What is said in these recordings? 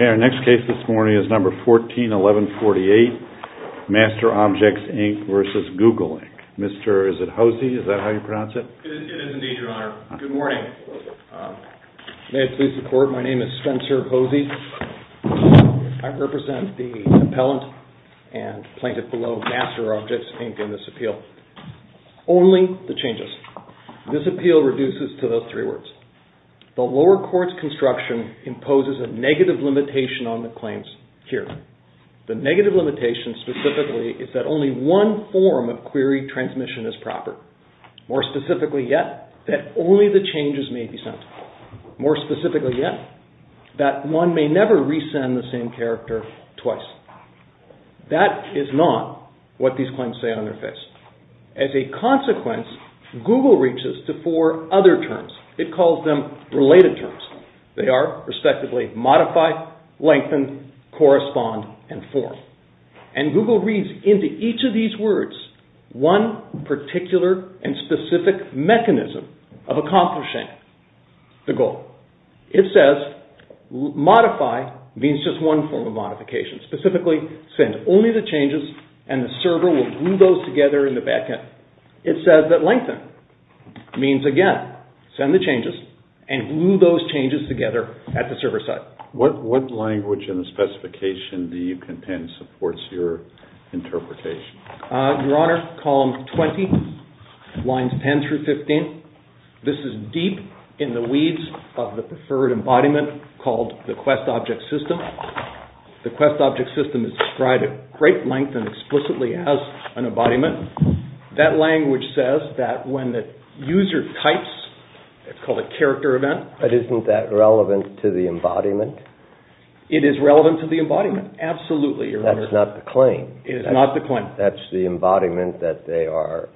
Okay, our next case this morning is number 141148, MasterObjects, Inc. v. Google Inc. Mr. is it Hosey, is that how you pronounce it? It is indeed, Your Honor. Good morning. May I please report, my name is Spencer Hosey. I represent the appellant and plaintiff below MasterObjects, Inc. in this appeal. Only the changes, this appeal reduces to those three words. The lower court's construction imposes a negative limitation on the claims here. The negative limitation specifically is that only one form of query transmission is proper. More specifically yet, that only the changes may be sent. More specifically yet, that one may never resend the same character twice. That is not what these claims say on their face. As a consequence, Google reaches to four other terms. It calls them related terms. They are respectively modify, lengthen, correspond, and form. And Google reads into each of these words one particular and specific mechanism of accomplishing the goal. It says, modify means just one form of modification. Specifically send only the changes and the server will glue those together in the backend. It says that lengthen means again, send the changes and glue those changes together at the server side. What language and specification do you contend supports your interpretation? Your Honor, column 20, lines 10 through 15, this is deep in the weeds of the preferred embodiment called the quest object system. The quest object system is described at great length and explicitly as an embodiment. That language says that when the user types, it's called a character event. But isn't that relevant to the embodiment? It is relevant to the embodiment, absolutely, Your Honor. That's not the claim. It is not the claim. That's the embodiment that they are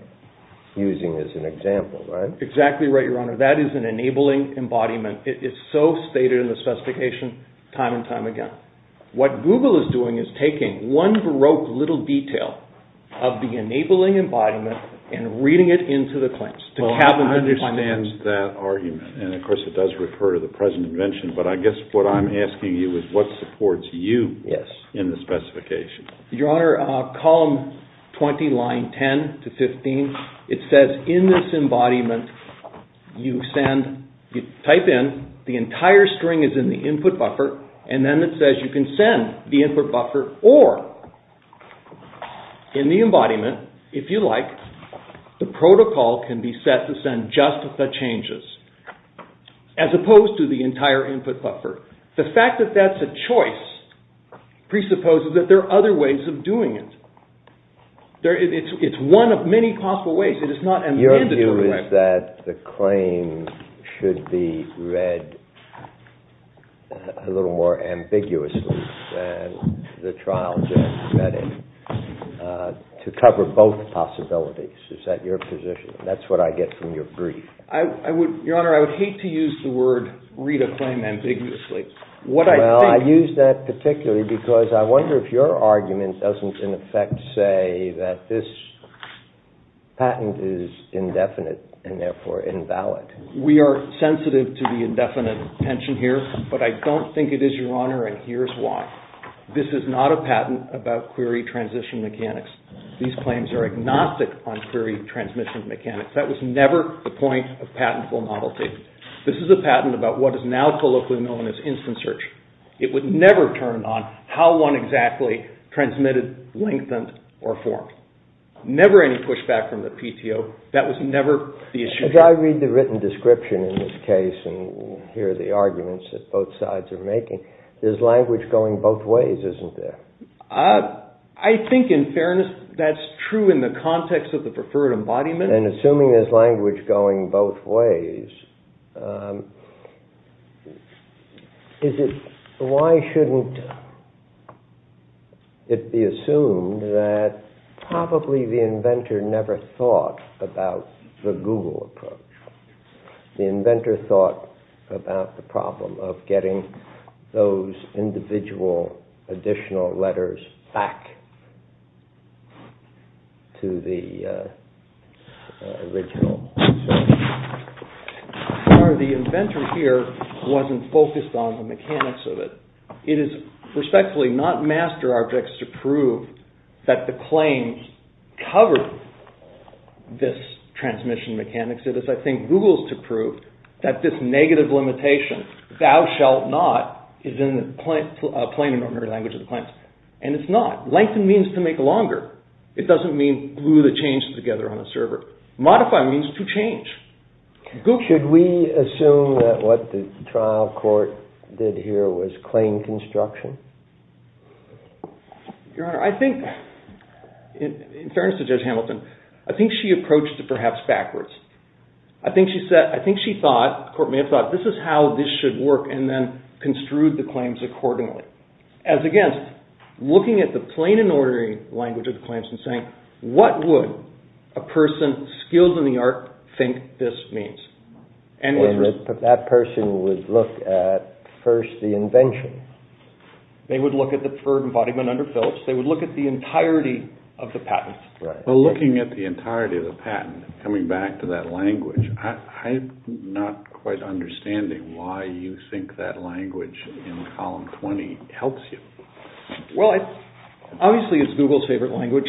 using as an example, right? Exactly right, Your Honor. That is an enabling embodiment. It's so stated in the specification time and time again. What Google is doing is taking one baroque little detail of the enabling embodiment and reading it into the claims. I understand that argument and of course it does refer to the present invention, but I guess what I'm asking you is what supports you in the specification? Your Honor, column 20, line 10 to 15, it says in this embodiment you send, you type in, the entire string is in the input buffer and then it says you can send the input buffer or in the embodiment, if you like, the protocol can be set to send just the changes as opposed to the entire input buffer. The fact that that's a choice presupposes that there are other ways of doing it. It's one of many possible ways. It is not a mandatory way. Your view is that the claim should be read a little more ambiguously than the trial judge read it to cover both possibilities. Is that your position? That's what I get from your brief. Your Honor, I would hate to use the word read a claim ambiguously. I use that particularly because I wonder if your argument doesn't in effect say that this patent is indefinite and therefore invalid. We are sensitive to the indefinite tension here, but I don't think it is, Your Honor, and here's why. This is not a patent about query transition mechanics. These claims are agnostic on query transmission mechanics. That was never the point of patentful novelty. This is a patent about what is now colloquially known as instant search. It would never turn on how one exactly transmitted, lengthened, or formed. Never any pushback from the PTO. That was never the issue. If I read the written description in this case and hear the arguments that both sides are making, there's language going both ways, isn't there? I think in fairness that's true in the context of the preferred embodiment. Assuming there's language going both ways, why shouldn't it be assumed that probably the inventor never thought about the Google approach? The inventor thought about the problem of getting those individual additional letters back to the original. The inventor here wasn't focused on the mechanics of it. It is respectfully not master objects to prove that the claims cover this transmission mechanics. It is, I think, Google's to prove that this negative limitation, thou shalt not, is in the plain and ordinary language of the claims. And it's not. Lengthened means to make longer. It doesn't mean glue the changes together on the server. Modify means to change. Should we assume that what the trial court did here was claim construction? Your Honor, I think, in fairness to Judge Hamilton, I think she approached it perhaps backwards. I think she thought, the court may have thought, this is how this should work and then construed the claims accordingly. As against looking at the plain and ordinary language of the claims and saying, what would a person skilled in the art think this means? And that person would look at first the invention. They would look at the preferred embodiment under Phillips. They would look at the entirety of the patent. Well, looking at the entirety of the patent, coming back to that language, I'm not quite understanding why you think that language in column 20 helps you. Well, obviously, it's Google's favorite language.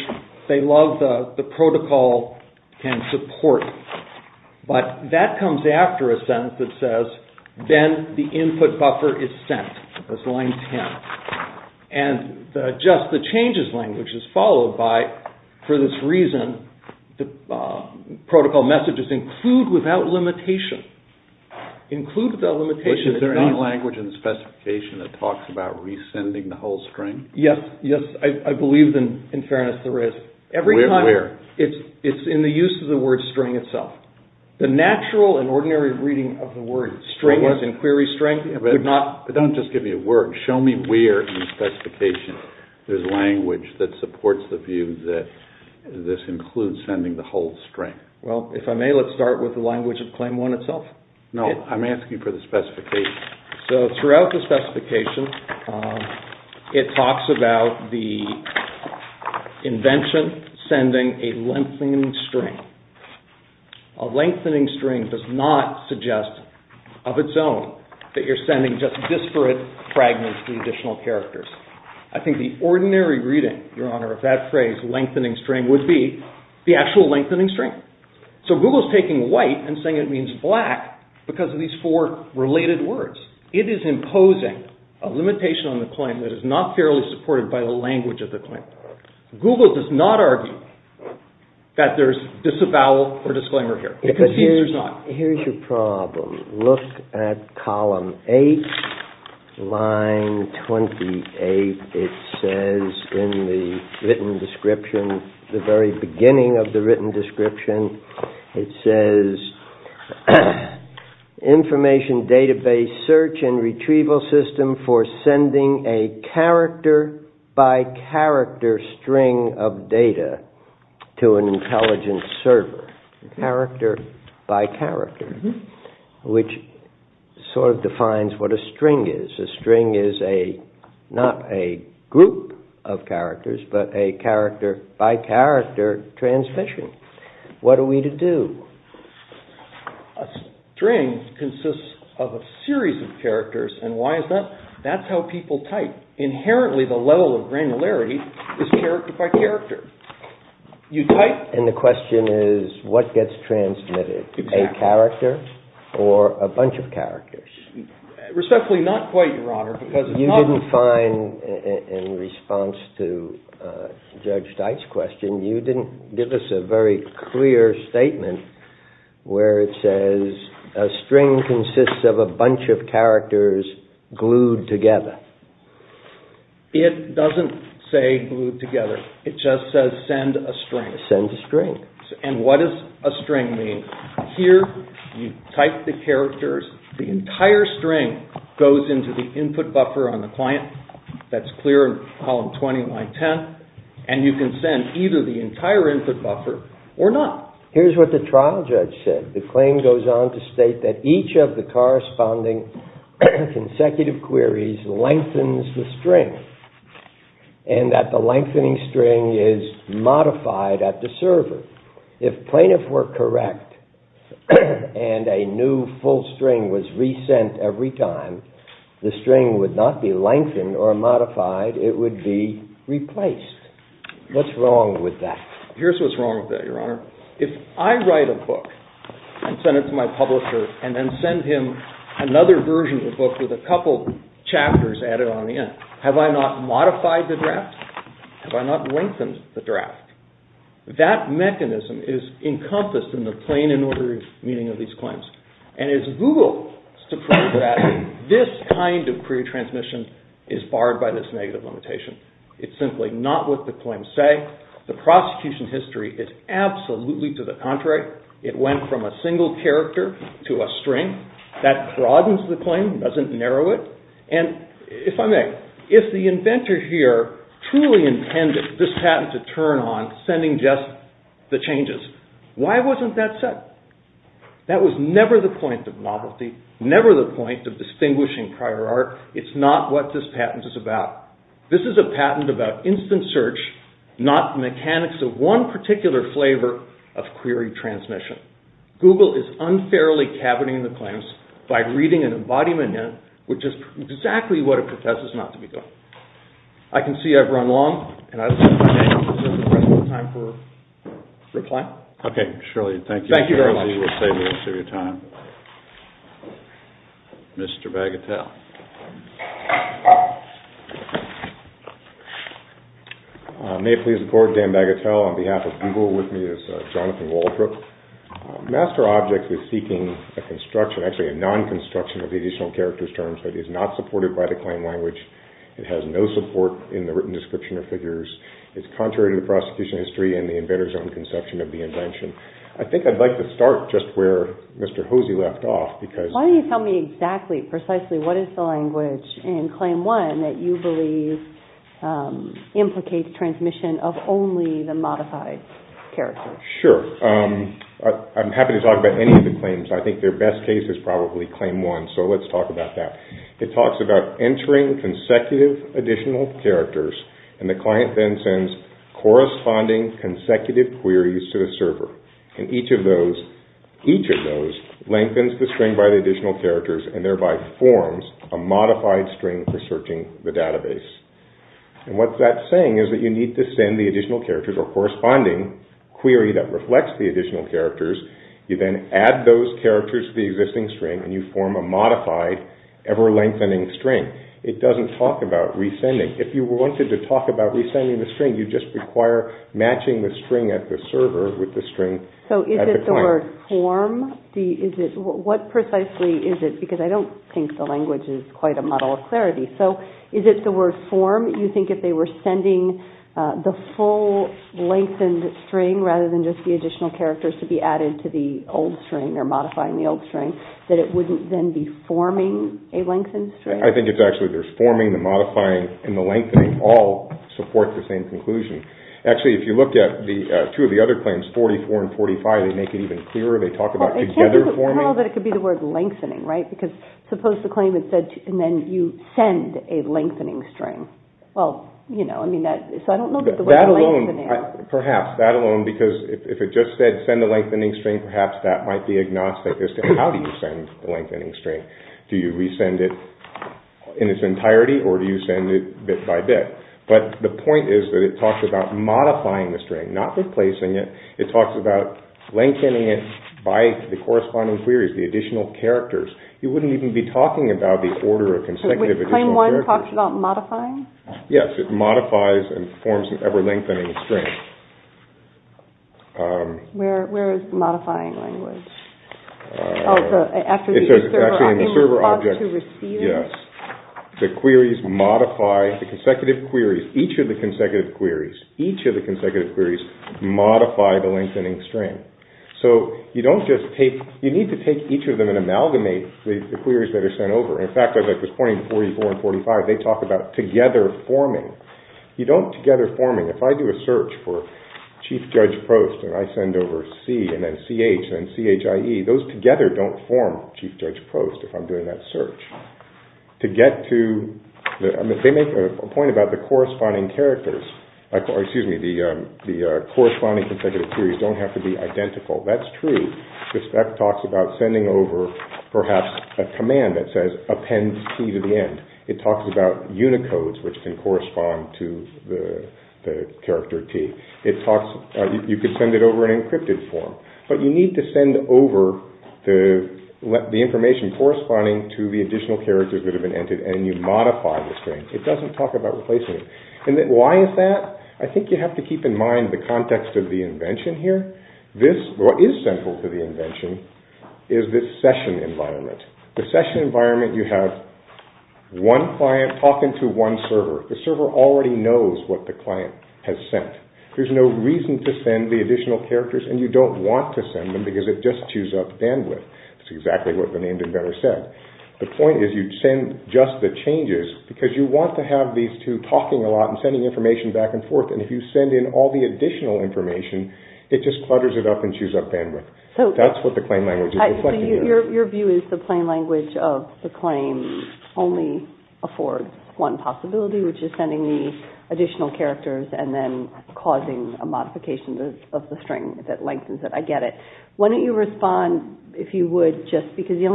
They love the protocol and support. But that comes after a sentence that says, then the input buffer is sent. That's line 10. And just the changes language is followed by, for this reason, the protocol messages include without limitation. Include without limitation. But is there any language in the specification that talks about resending the whole string? Yes. I believe, in fairness, there is. Where? It's in the use of the word string itself. The natural and ordinary reading of the word string as in query string. But don't just give me a word. Show me where in the specification there's language that supports the view that this includes sending the whole string. Well, if I may, let's start with the language of claim one itself. No, I'm asking for the specification. So throughout the specification, it talks about the invention sending a lengthening string. A lengthening string does not suggest of its own that you're sending just disparate fragments to the additional characters. I think the ordinary reading, Your Honor, of that phrase, lengthening string, would be the actual lengthening string. So Google's taking white and saying it means black because of these four related words. It is imposing a limitation on the claim that is not fairly supported by the language of the claim. Google does not argue that there's disavowal or disclaimer here. Here's your problem. Look at column eight, line 28. It says in the written description, the very beginning of the written description, it says information database search and retrieval system for sending a character-by-character string of data to an intelligent server. Character-by-character, which sort of defines what a string is. A string is not a group of characters, but a character-by-character transmission. What are we to do? A string consists of a series of characters, and why is that? That's how people type. Inherently, the level of granularity is character-by-character. You type, and the question is, what gets transmitted? A character or a bunch of characters? Respectfully, not quite, Your Honor. You didn't find, in response to Judge Dyke's question, you didn't give us a very clear statement where it says a string consists of a bunch of characters glued together. It doesn't say glued together. It just says send a string. Send a string. And what does a string mean? Here, you type the characters. The entire string goes into the input buffer on the client. That's clear in column 20, line 10. And you can send either the entire input buffer or not. Here's what the trial judge said. The claim goes on to state that each of the corresponding consecutive queries lengthens the string, and that the lengthening string is modified at the server. If plaintiffs were correct and a new full string was resent every time, the string would not be lengthened or modified. It would be replaced. What's wrong with that? Here's what's wrong with that, Your Honor. If I write a book and send it to my publisher and then send him another version of the book with a couple chapters added on the end, have I not modified the draft? Have I not lengthened the draft? That mechanism is encompassed in the plain and ordinary meaning of these claims. And as Google is to prove that, this kind of query transmission is barred by this negative limitation. It's simply not what the claims say. The prosecution history is absolutely to the contrary. It went from a single character to a string. That broadens the claim, doesn't narrow it. And if I may, if the inventor here truly intended this patent to turn on sending just the changes, why wasn't that said? That was never the point of novelty, never the point of distinguishing prior art. It's not what this patent is about. This is a patent about instant search, not mechanics of one particular flavor of query transmission. Google is unfairly caverning the claims by reading an embodiment in it, which is exactly what it protests not to be doing. I can see I've run long. Is there some time for reply? Okay, surely. Thank you. Thank you very much. Surely you will save me some of your time. Mr. Bagatelle. May I please record Dan Bagatelle on behalf of Google with me as Jonathan Waldrop. Master Objects is seeking a construction, actually a non-construction of the additional characters terms that is not supported by the claim language. It has no support in the written description of figures. It's contrary to the prosecution history and the inventor's own conception of the invention. I think I'd like to start just where Mr. Hosey left off. Why don't you tell me exactly, precisely what is the language in Claim 1 that you believe implicates transmission of only the modified characters? Sure. I'm happy to talk about any of the claims. I think their best case is probably Claim 1, so let's talk about that. It talks about entering consecutive additional characters and the client then sends corresponding consecutive queries to the server. Each of those lengthens the string by the additional characters and thereby forms a modified string for searching the database. What that's saying is that you need to send the additional characters or corresponding query that reflects the additional characters. You then add those characters to the existing string and you form a modified ever lengthening string. It doesn't talk about resending. If you wanted to talk about resending the string, you just require matching the string at the server with the string at the client. Is it the word form? What precisely is it? Because I don't think the language is quite a model of clarity. Is it the word form? You think if they were sending the full lengthened string rather than just the additional characters to be added to the old string or modifying the old string, that it wouldn't then be forming a lengthened string? I think it's actually there's forming, the modifying, and the lengthening all support the same conclusion. Actually, if you looked at two of the other claims, 44 and 45, they make it even clearer. They talk about together forming. It can't be the curl that it could be the word lengthening, right? Because suppose the claim had said and then you send a lengthening string. Well, you know, I mean, so I don't know that the word lengthening... That alone, perhaps that alone, because if it just said send a lengthening string, perhaps that might be agnostic as to how do you send the lengthening string? Do you resend it in its entirety or do you send it bit by bit? But the point is that it talks about modifying the string, not replacing it. It talks about lengthening it by the corresponding queries, the additional characters. You wouldn't even be talking about the order of consecutive additional characters. So would claim one talk about modifying? Yes, it modifies and forms an ever-lengthening string. Where is modifying language? Oh, it's actually in the server object. In response to receiving? Yes. The queries modify, the consecutive queries, each of the consecutive queries, each of the consecutive queries modify the lengthening string. So you don't just take... You need to take each of them and amalgamate the queries that are sent over. In fact, as I was pointing to 44 and 45, they talk about together forming. You don't together forming... If I do a search for Chief Judge Prost and I send over C and then CH and CHIE, those together don't form Chief Judge Prost if I'm doing that search. To get to... They make a point about the corresponding characters... Excuse me. The corresponding consecutive queries don't have to be identical. That's true. The spec talks about sending over perhaps a command that says append T to the end. It talks about unicodes which can correspond to the character T. It talks... You could send it over an encrypted form. But you need to send over the information corresponding to the additional characters that have been entered and you modify the string. It doesn't talk about replacement. And why is that? I think you have to keep in mind the context of the invention here. What is central to the invention is this session environment. The session environment you have one client talking to one server. The server already knows what the client has sent. There's no reason to send the additional characters and you don't want to send them because it just chews up bandwidth. That's exactly what the named inventor said. The point is you send just the changes because you want to have these two talking a lot and sending information back and forth and if you send in all the additional information it just clutters it up and chews up bandwidth. That's what the claim language is reflecting here. Your view is the plain language of the claim only affords one possibility which is sending the additional characters and then causing a modification of the string that lengthens it. I get it. Why don't you respond if you would just because the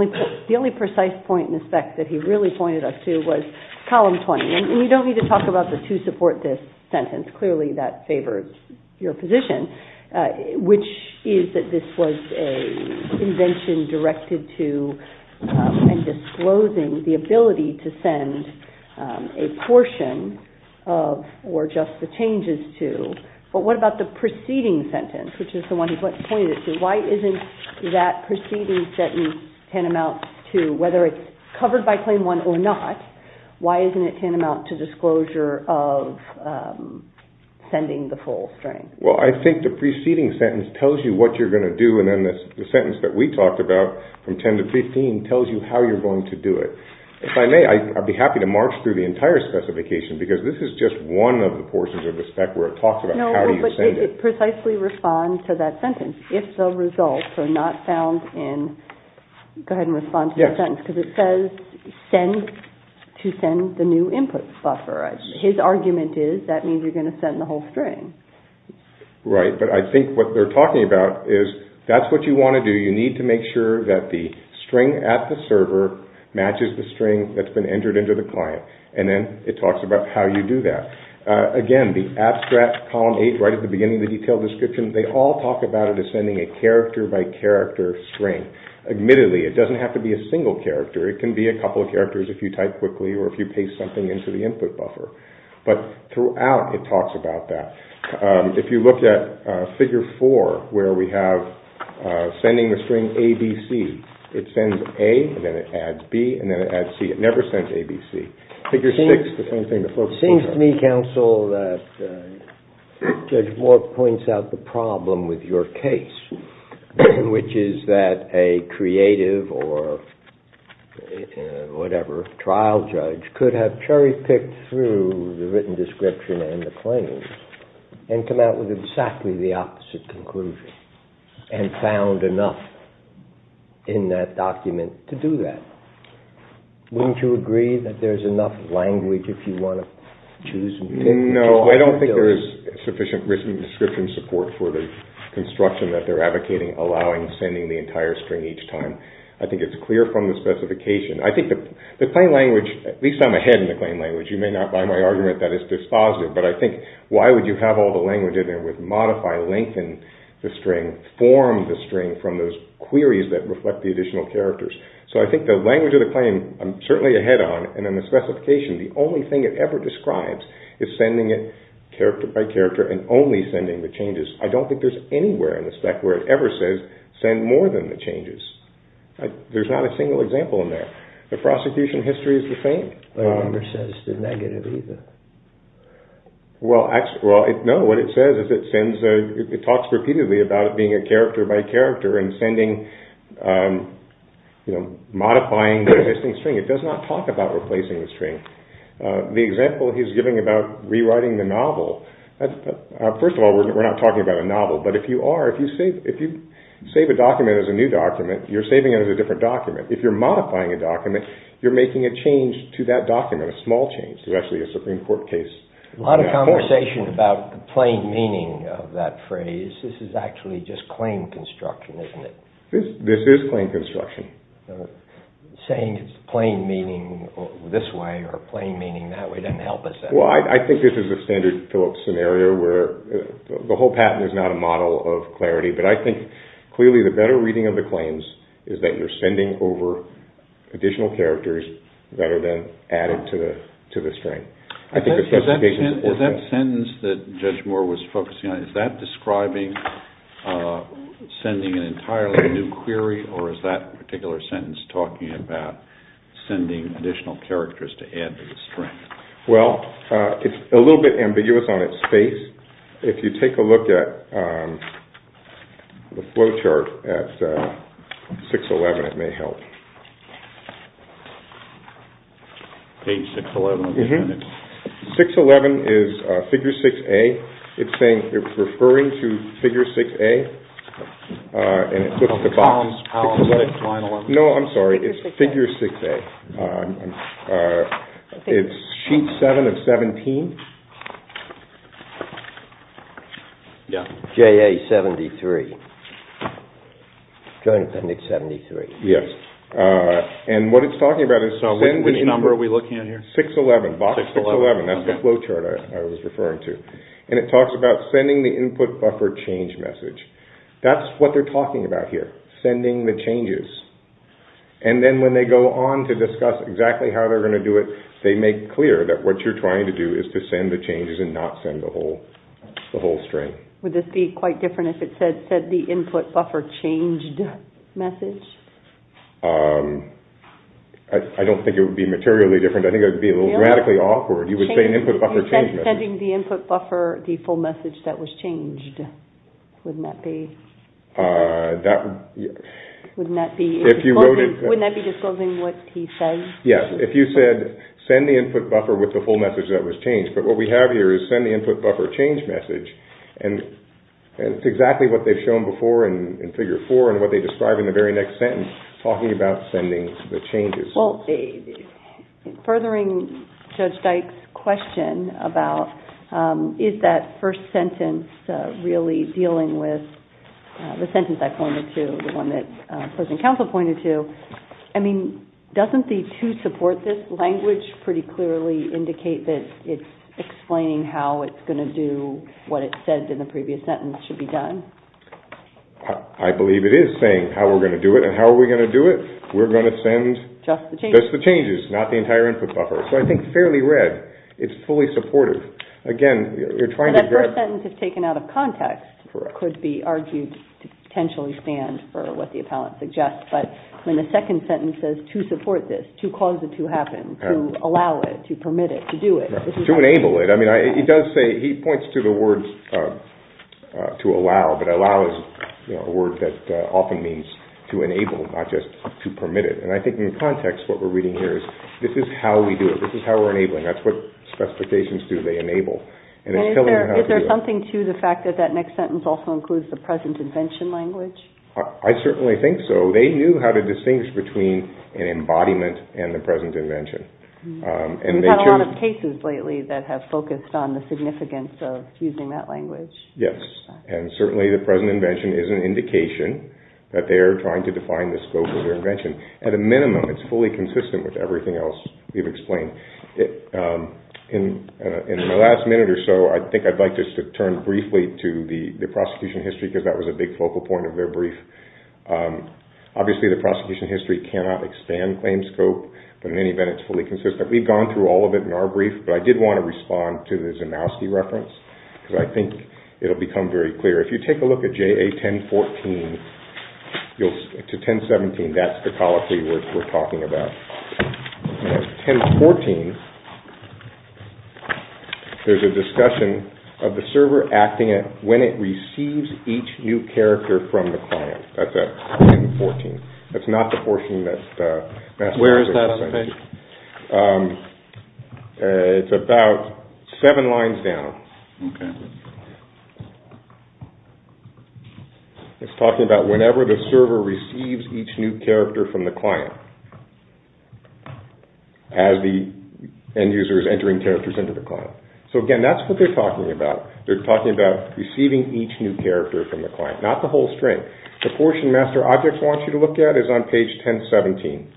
only precise point in the spec that he really pointed us to was column 20. You don't need to talk about the to support this sentence. Clearly that favors your position which is that this was an invention directed to and disclosing the ability to send a portion of or just the changes to. What about the preceding sentence which is the one he pointed to? Why isn't that preceding sentence tantamount to whether it's covered by claim one or not why isn't it tantamount to disclosure of sending the full string? Well, I think the preceding sentence tells you what you're going to do and then the sentence that we talked about from 10 to 15 tells you how you're going to do it. If I may, I'd be happy to march through the entire specification because this is just one of the portions of the spec where it talks about how you send it. No, but it precisely responds to that sentence if the results are not found in Go ahead and respond to that sentence because it says to send the new input buffer. His argument is that means you're going to send the whole string. Right, but I think what they're talking about is that's what you want to do. You need to make sure that the string at the server matches the string that's been entered into the client and then it talks about how you do that. Again, the abstract column 8 right at the beginning of the detailed description they all talk about it as sending a character by character string. Admittedly, it doesn't have to be a single character. It can be a couple of characters if you type quickly or if you paste something into the input buffer. But throughout it talks about that. If you look at figure 4 where we have sending the string A, B, C it sends A and then it adds B and then it adds C. It never sends A, B, C. Figure 6, the same thing. It seems to me, counsel, that Judge Moore points out the problem with your case which is that a creative or whatever trial judge could have cherry-picked through the written description and the claims and come out with exactly the opposite conclusion and found enough in that document to do that. Wouldn't you agree that there's enough language if you want to choose and pick? No, I don't think there is sufficient written description support for the construction that they're advocating allowing sending the entire string each time. I think it's clear from the specification. I think the plain language, at least I'm ahead in the plain language you may not buy my argument that it's dispositive but I think why would you have all the language in there with modify, lengthen the string, form the string from those queries that reflect the additional characters. So I think the language of the claim, I'm certainly ahead on and in the specification, the only thing it ever describes is sending it character by character and only sending the changes. I don't think there's anywhere in the spec where it ever says send more than the changes. There's not a single example in there. The prosecution history is the same. It never says the negative either. Well, no, what it says is it sends, it talks repeatedly about it being a character by character and sending, modifying the existing string. It does not talk about replacing the string. The example he's giving about rewriting the novel, first of all, we're not talking about a novel, but if you are, if you save a document as a new document, you're saving it as a different document. If you're modifying a document, you're making a change to that document, a small change to actually a Supreme Court case. A lot of conversation about the plain meaning of that phrase. This is actually just claim construction, isn't it? This is claim construction. Saying it's plain meaning this way or plain meaning that way doesn't help us at all. Well, I think this is a standard Phillips scenario where the whole patent is not a model of clarity, but I think clearly the better reading of the claims is that you're sending over additional characters that are then added to the string. Is that sentence that Judge Moore was focusing on, is that describing sending an entirely new query or is that particular sentence talking about sending additional characters to add to the string? Well, it's a little bit ambiguous on its face. If you take a look at the flowchart at 611, it may help. Page 611. 611 is Figure 6A. It's saying, it's referring to Figure 6A. No, I'm sorry. It's Figure 6A. It's Sheet 7 of 17. Yeah. JA 73. Joint Appendix 73. Yes. And what it's talking about is... So, which number are we looking at here? 611. Box 611. 611. That's the flowchart I was referring to. And it talks about sending the input buffer change message. That's what they're talking about here, sending the changes. And then when they go on to discuss exactly how they're going to do it, they make clear that what you're trying to do is to send the changes and not send the whole string. Would this be quite different if it said the input buffer changed message? I don't think it would be materially different. I think it would be a little dramatically awkward. You would say an input buffer changed message. Sending the input buffer the full message that was changed. Wouldn't that be... Wouldn't that be disclosing what he says? Yes, if you said, send the input buffer with the full message that was changed. But what we have here is send the input buffer change message. And it's exactly what they've shown before in Figure 4 and what they describe in the very next sentence, talking about sending the changes. Well, furthering Judge Dyke's question about is that first sentence really dealing with the sentence I pointed to, the one that President Counsel pointed to, I mean, doesn't the to support this language pretty clearly indicate that it's explaining how it's going to do what it said in the previous sentence should be done? I believe it is saying how we're going to do it and how are we going to do it. We're going to send just the changes, not the entire input buffer. So I think fairly read. It's fully supportive. Again, you're trying to address... That first sentence is taken out of context or could be argued to potentially stand for what the appellant suggests. But when the second sentence says to support this, to cause it to happen, to allow it, to permit it, to do it... To enable it. I mean, it does say... He points to the words to allow, but allow is a word that often means to enable, not just to permit it. And I think in context what we're reading here is this is how we do it. This is how we're enabling. That's what specifications do. They enable. And it's telling you how to do it. Is there something to the fact that that next sentence also includes the present invention language? I certainly think so. They knew how to distinguish between an embodiment and the present invention. We've had a lot of cases lately that have focused on the significance of using that language. Yes. And certainly the present invention is an indication that they are trying to define the scope of their invention. At a minimum, it's fully consistent with everything else we've explained. In the last minute or so, I think I'd like just to turn briefly to the prosecution history because that was a big focal point of their brief. Obviously, the prosecution history cannot expand claim scope, but in any event, it's fully consistent. We've gone through all of it in our brief, but I did want to respond to the Zimowski reference because I think it'll become very clear. If you take a look at JA 1014 to 1017, that's the colloquy we're talking about. In 1014, there's a discussion of the server acting when it receives each new character from the client. That's at 1014. That's not the portion that's Where is that on the page? It's about seven lines down. Okay. It's talking about whenever the server receives each new character from the client as the end user is entering characters into the client. So again, that's what they're talking about. They're talking about receiving each new character from the client, not the whole string. The portion Master Object wants you to look at is on page 1017.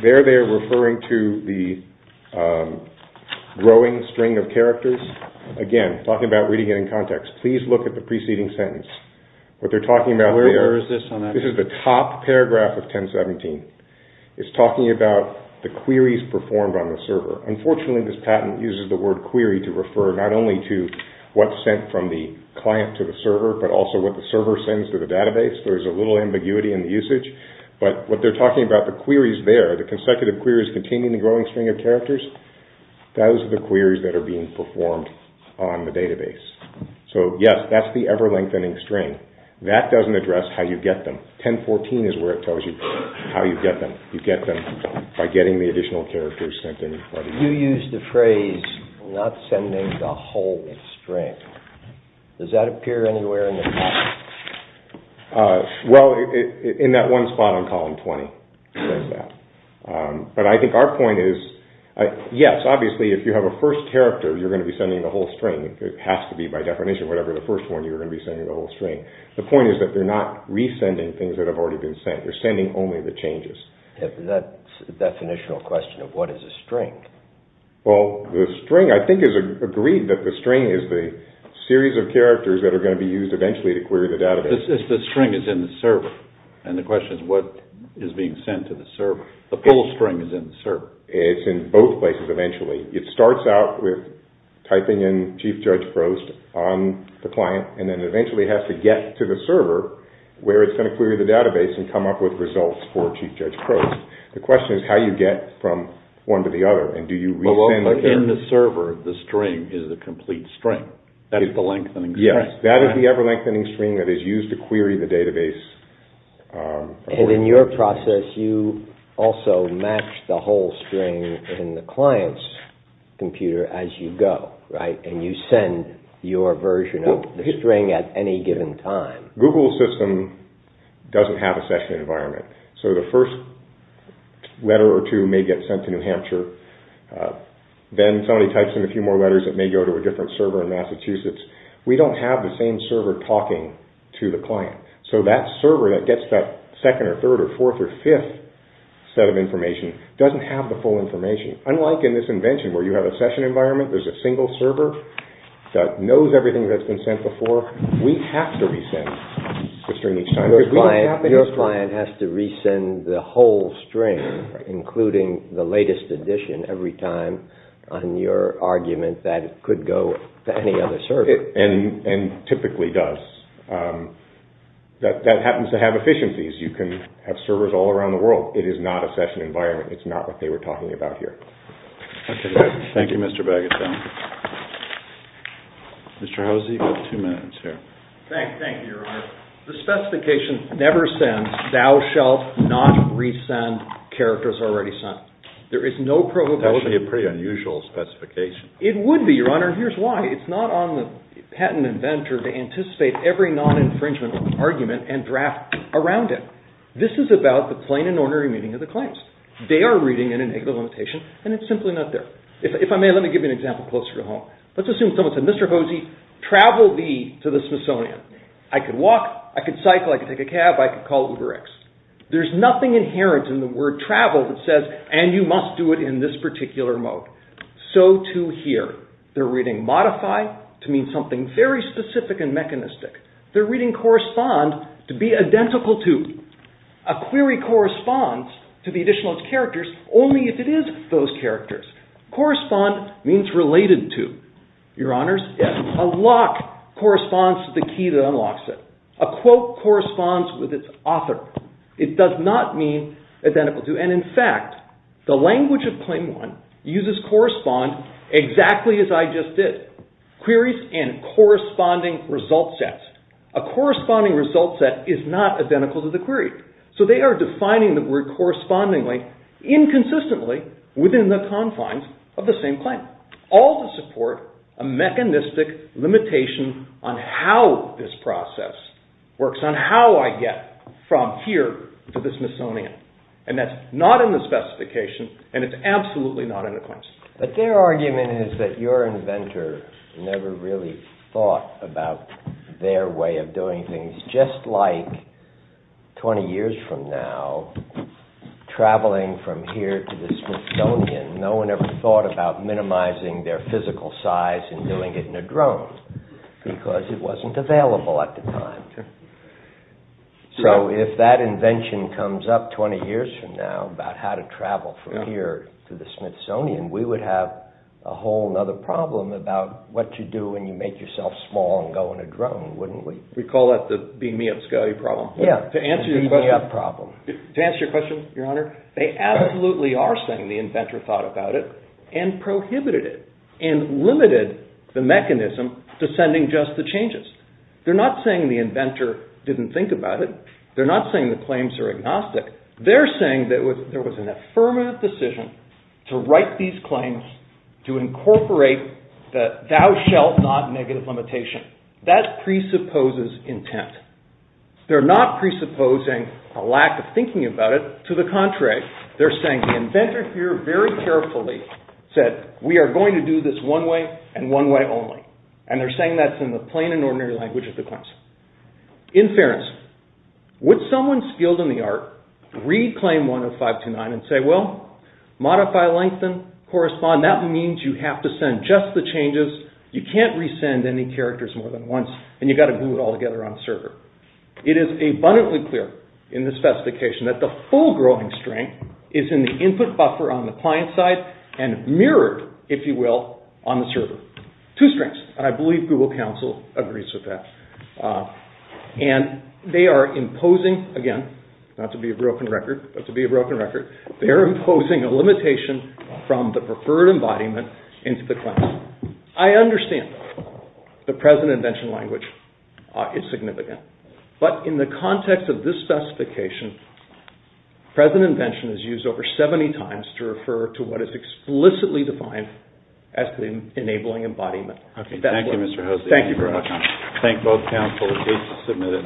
There they're referring to the growing string of characters. Again, talking about reading it in context. Please look at the preceding sentence. What they're talking about there Where is this on that page? This is the top paragraph of 1017. It's talking about the queries performed on the server. Unfortunately, this patent uses the word query to refer not only to what's sent from the client to the server, but also what the server sends to the database. There's a little ambiguity in the usage. But what they're talking about, the queries there, the consecutive queries containing the growing string of characters, those are the queries that are being performed on the database. So yes, that's the ever-lengthening string. That doesn't address how you get them. 1014 is where it tells you how you get them. You get them by getting the additional characters sent in. You used the phrase not sending the whole string. Does that appear anywhere in the document? Well, in that one spot on column 20. It says that. But I think our point is, yes, obviously, if you have a first character, you're going to be sending the whole string. It has to be, by definition, whatever the first one, you're going to be sending the whole string. The point is that they're not resending things that have already been sent. They're sending only the changes. That's a definitional question of what is a string. Well, the string, I think, is agreed that the string is the series of characters that are going to be used eventually to query the database. The string is in the server, and the question is what is being sent to the server. The whole string is in the server. It's in both places eventually. It starts out with typing in Chief Judge Prost on the client, and then eventually has to get to the server where it's going to query the database and come up with results for Chief Judge Prost. The question is how you get from one to the other, and do you resend the characters? In the server, the string is the complete string. That is the lengthening string. Yes, that is the ever-lengthening string that is used to query the database. And in your process, you also match the whole string in the client's computer as you go, right? And you send your version of the string at any given time. Google's system doesn't have a session environment, so the first letter or two may get sent to New Hampshire. Then somebody types in a few more letters that may go to a different server in Massachusetts. We don't have the same server talking to the client. So that server that gets that second or third or fourth or fifth set of information doesn't have the full information. Unlike in this invention where you have a session environment, there's a single server that knows everything that's been sent before. We have to resend the string each time. Your client has to resend the whole string, including the latest edition every time on your argument that it could go to any other server. And typically does. That happens to have efficiencies. You can have servers all around the world. It is not a session environment. It's not what they were talking about here. Thank you, Mr. Baggett. Mr. Hosea, you have two minutes here. Thank you, Your Honor. The specification never sends, thou shalt not resend characters already sent. That would be a pretty unusual specification. It would be, Your Honor. Here's why. It's not on the patent inventor to anticipate every non-infringement argument and draft around it. This is about the plain and ordinary meaning of the claims. They are reading in a negative limitation, and it's simply not there. If I may, let me give you an example closer to home. Let's assume someone said, Mr. Hosea, travel to the Smithsonian. I could walk. I could cycle. I could take a cab. I could call UberX. There's nothing inherent in the word travel that says, and you must do it in this particular mode. So too here. They're reading modify to mean something very specific and mechanistic. They're reading correspond to be identical to. A query corresponds to the additional characters only if it is those characters. Correspond means related to. Your Honors, yes. A lock corresponds to the key that unlocks it. A quote corresponds with its author. It does not mean identical to. And in fact, the language of Claim 1 uses correspond exactly as I just did. Queries and corresponding result sets. A corresponding result set is not identical to the query. So they are defining the word correspondingly, inconsistently within the confines of the same claim. All to support a mechanistic limitation on how this process works, on how I get from here to the Smithsonian. And that's not in the specification, and it's absolutely not in the claims. But their argument is that your inventor never really thought about their way of doing things. Just like 20 years from now, traveling from here to the Smithsonian, no one ever thought about minimizing their physical size and doing it in a drone. Because it wasn't available at the time. So if that invention comes up 20 years from now about how to travel from here to the Smithsonian, we would have a whole other problem about what you do when you make yourself small and go on a drone, wouldn't we? We call that the beam me up, Scali problem. Yeah, the beam me up problem. To answer your question, Your Honor, they absolutely are saying the inventor thought about it and prohibited it and limited the mechanism to sending just the changes. They're not saying the inventor didn't think about it. They're not saying the claims are agnostic. They're saying that there was an affirmative decision to write these claims to incorporate the thou shalt not negative limitation. That presupposes intent. They're not presupposing a lack of thinking about it. To the contrary, they're saying the inventor here very carefully said, we are going to do this one way and one way only. And they're saying that's in the plain and ordinary language of the claims. In fairness, would someone skilled in the art read claim 10529 and say, well, modify, lengthen, correspond. That means you have to send just the changes. You can't resend any characters more than once and you've got to glue it all together on a server. It is abundantly clear in this specification that the full growing strength is in the input buffer on the client side and mirrored, if you will, on the server. Two strengths. And I believe Google Counsel agrees with that. And they are imposing, again, not to be a broken record, but to be a broken record, they're imposing a limitation from the preferred embodiment into the claim. I understand the present invention language is significant. But in the context of this specification, present invention is used over 70 times to refer to what is explicitly defined as the enabling embodiment. Thank you, Mr. Hosea. Thank you very much. Thank both counsels. Please submit it.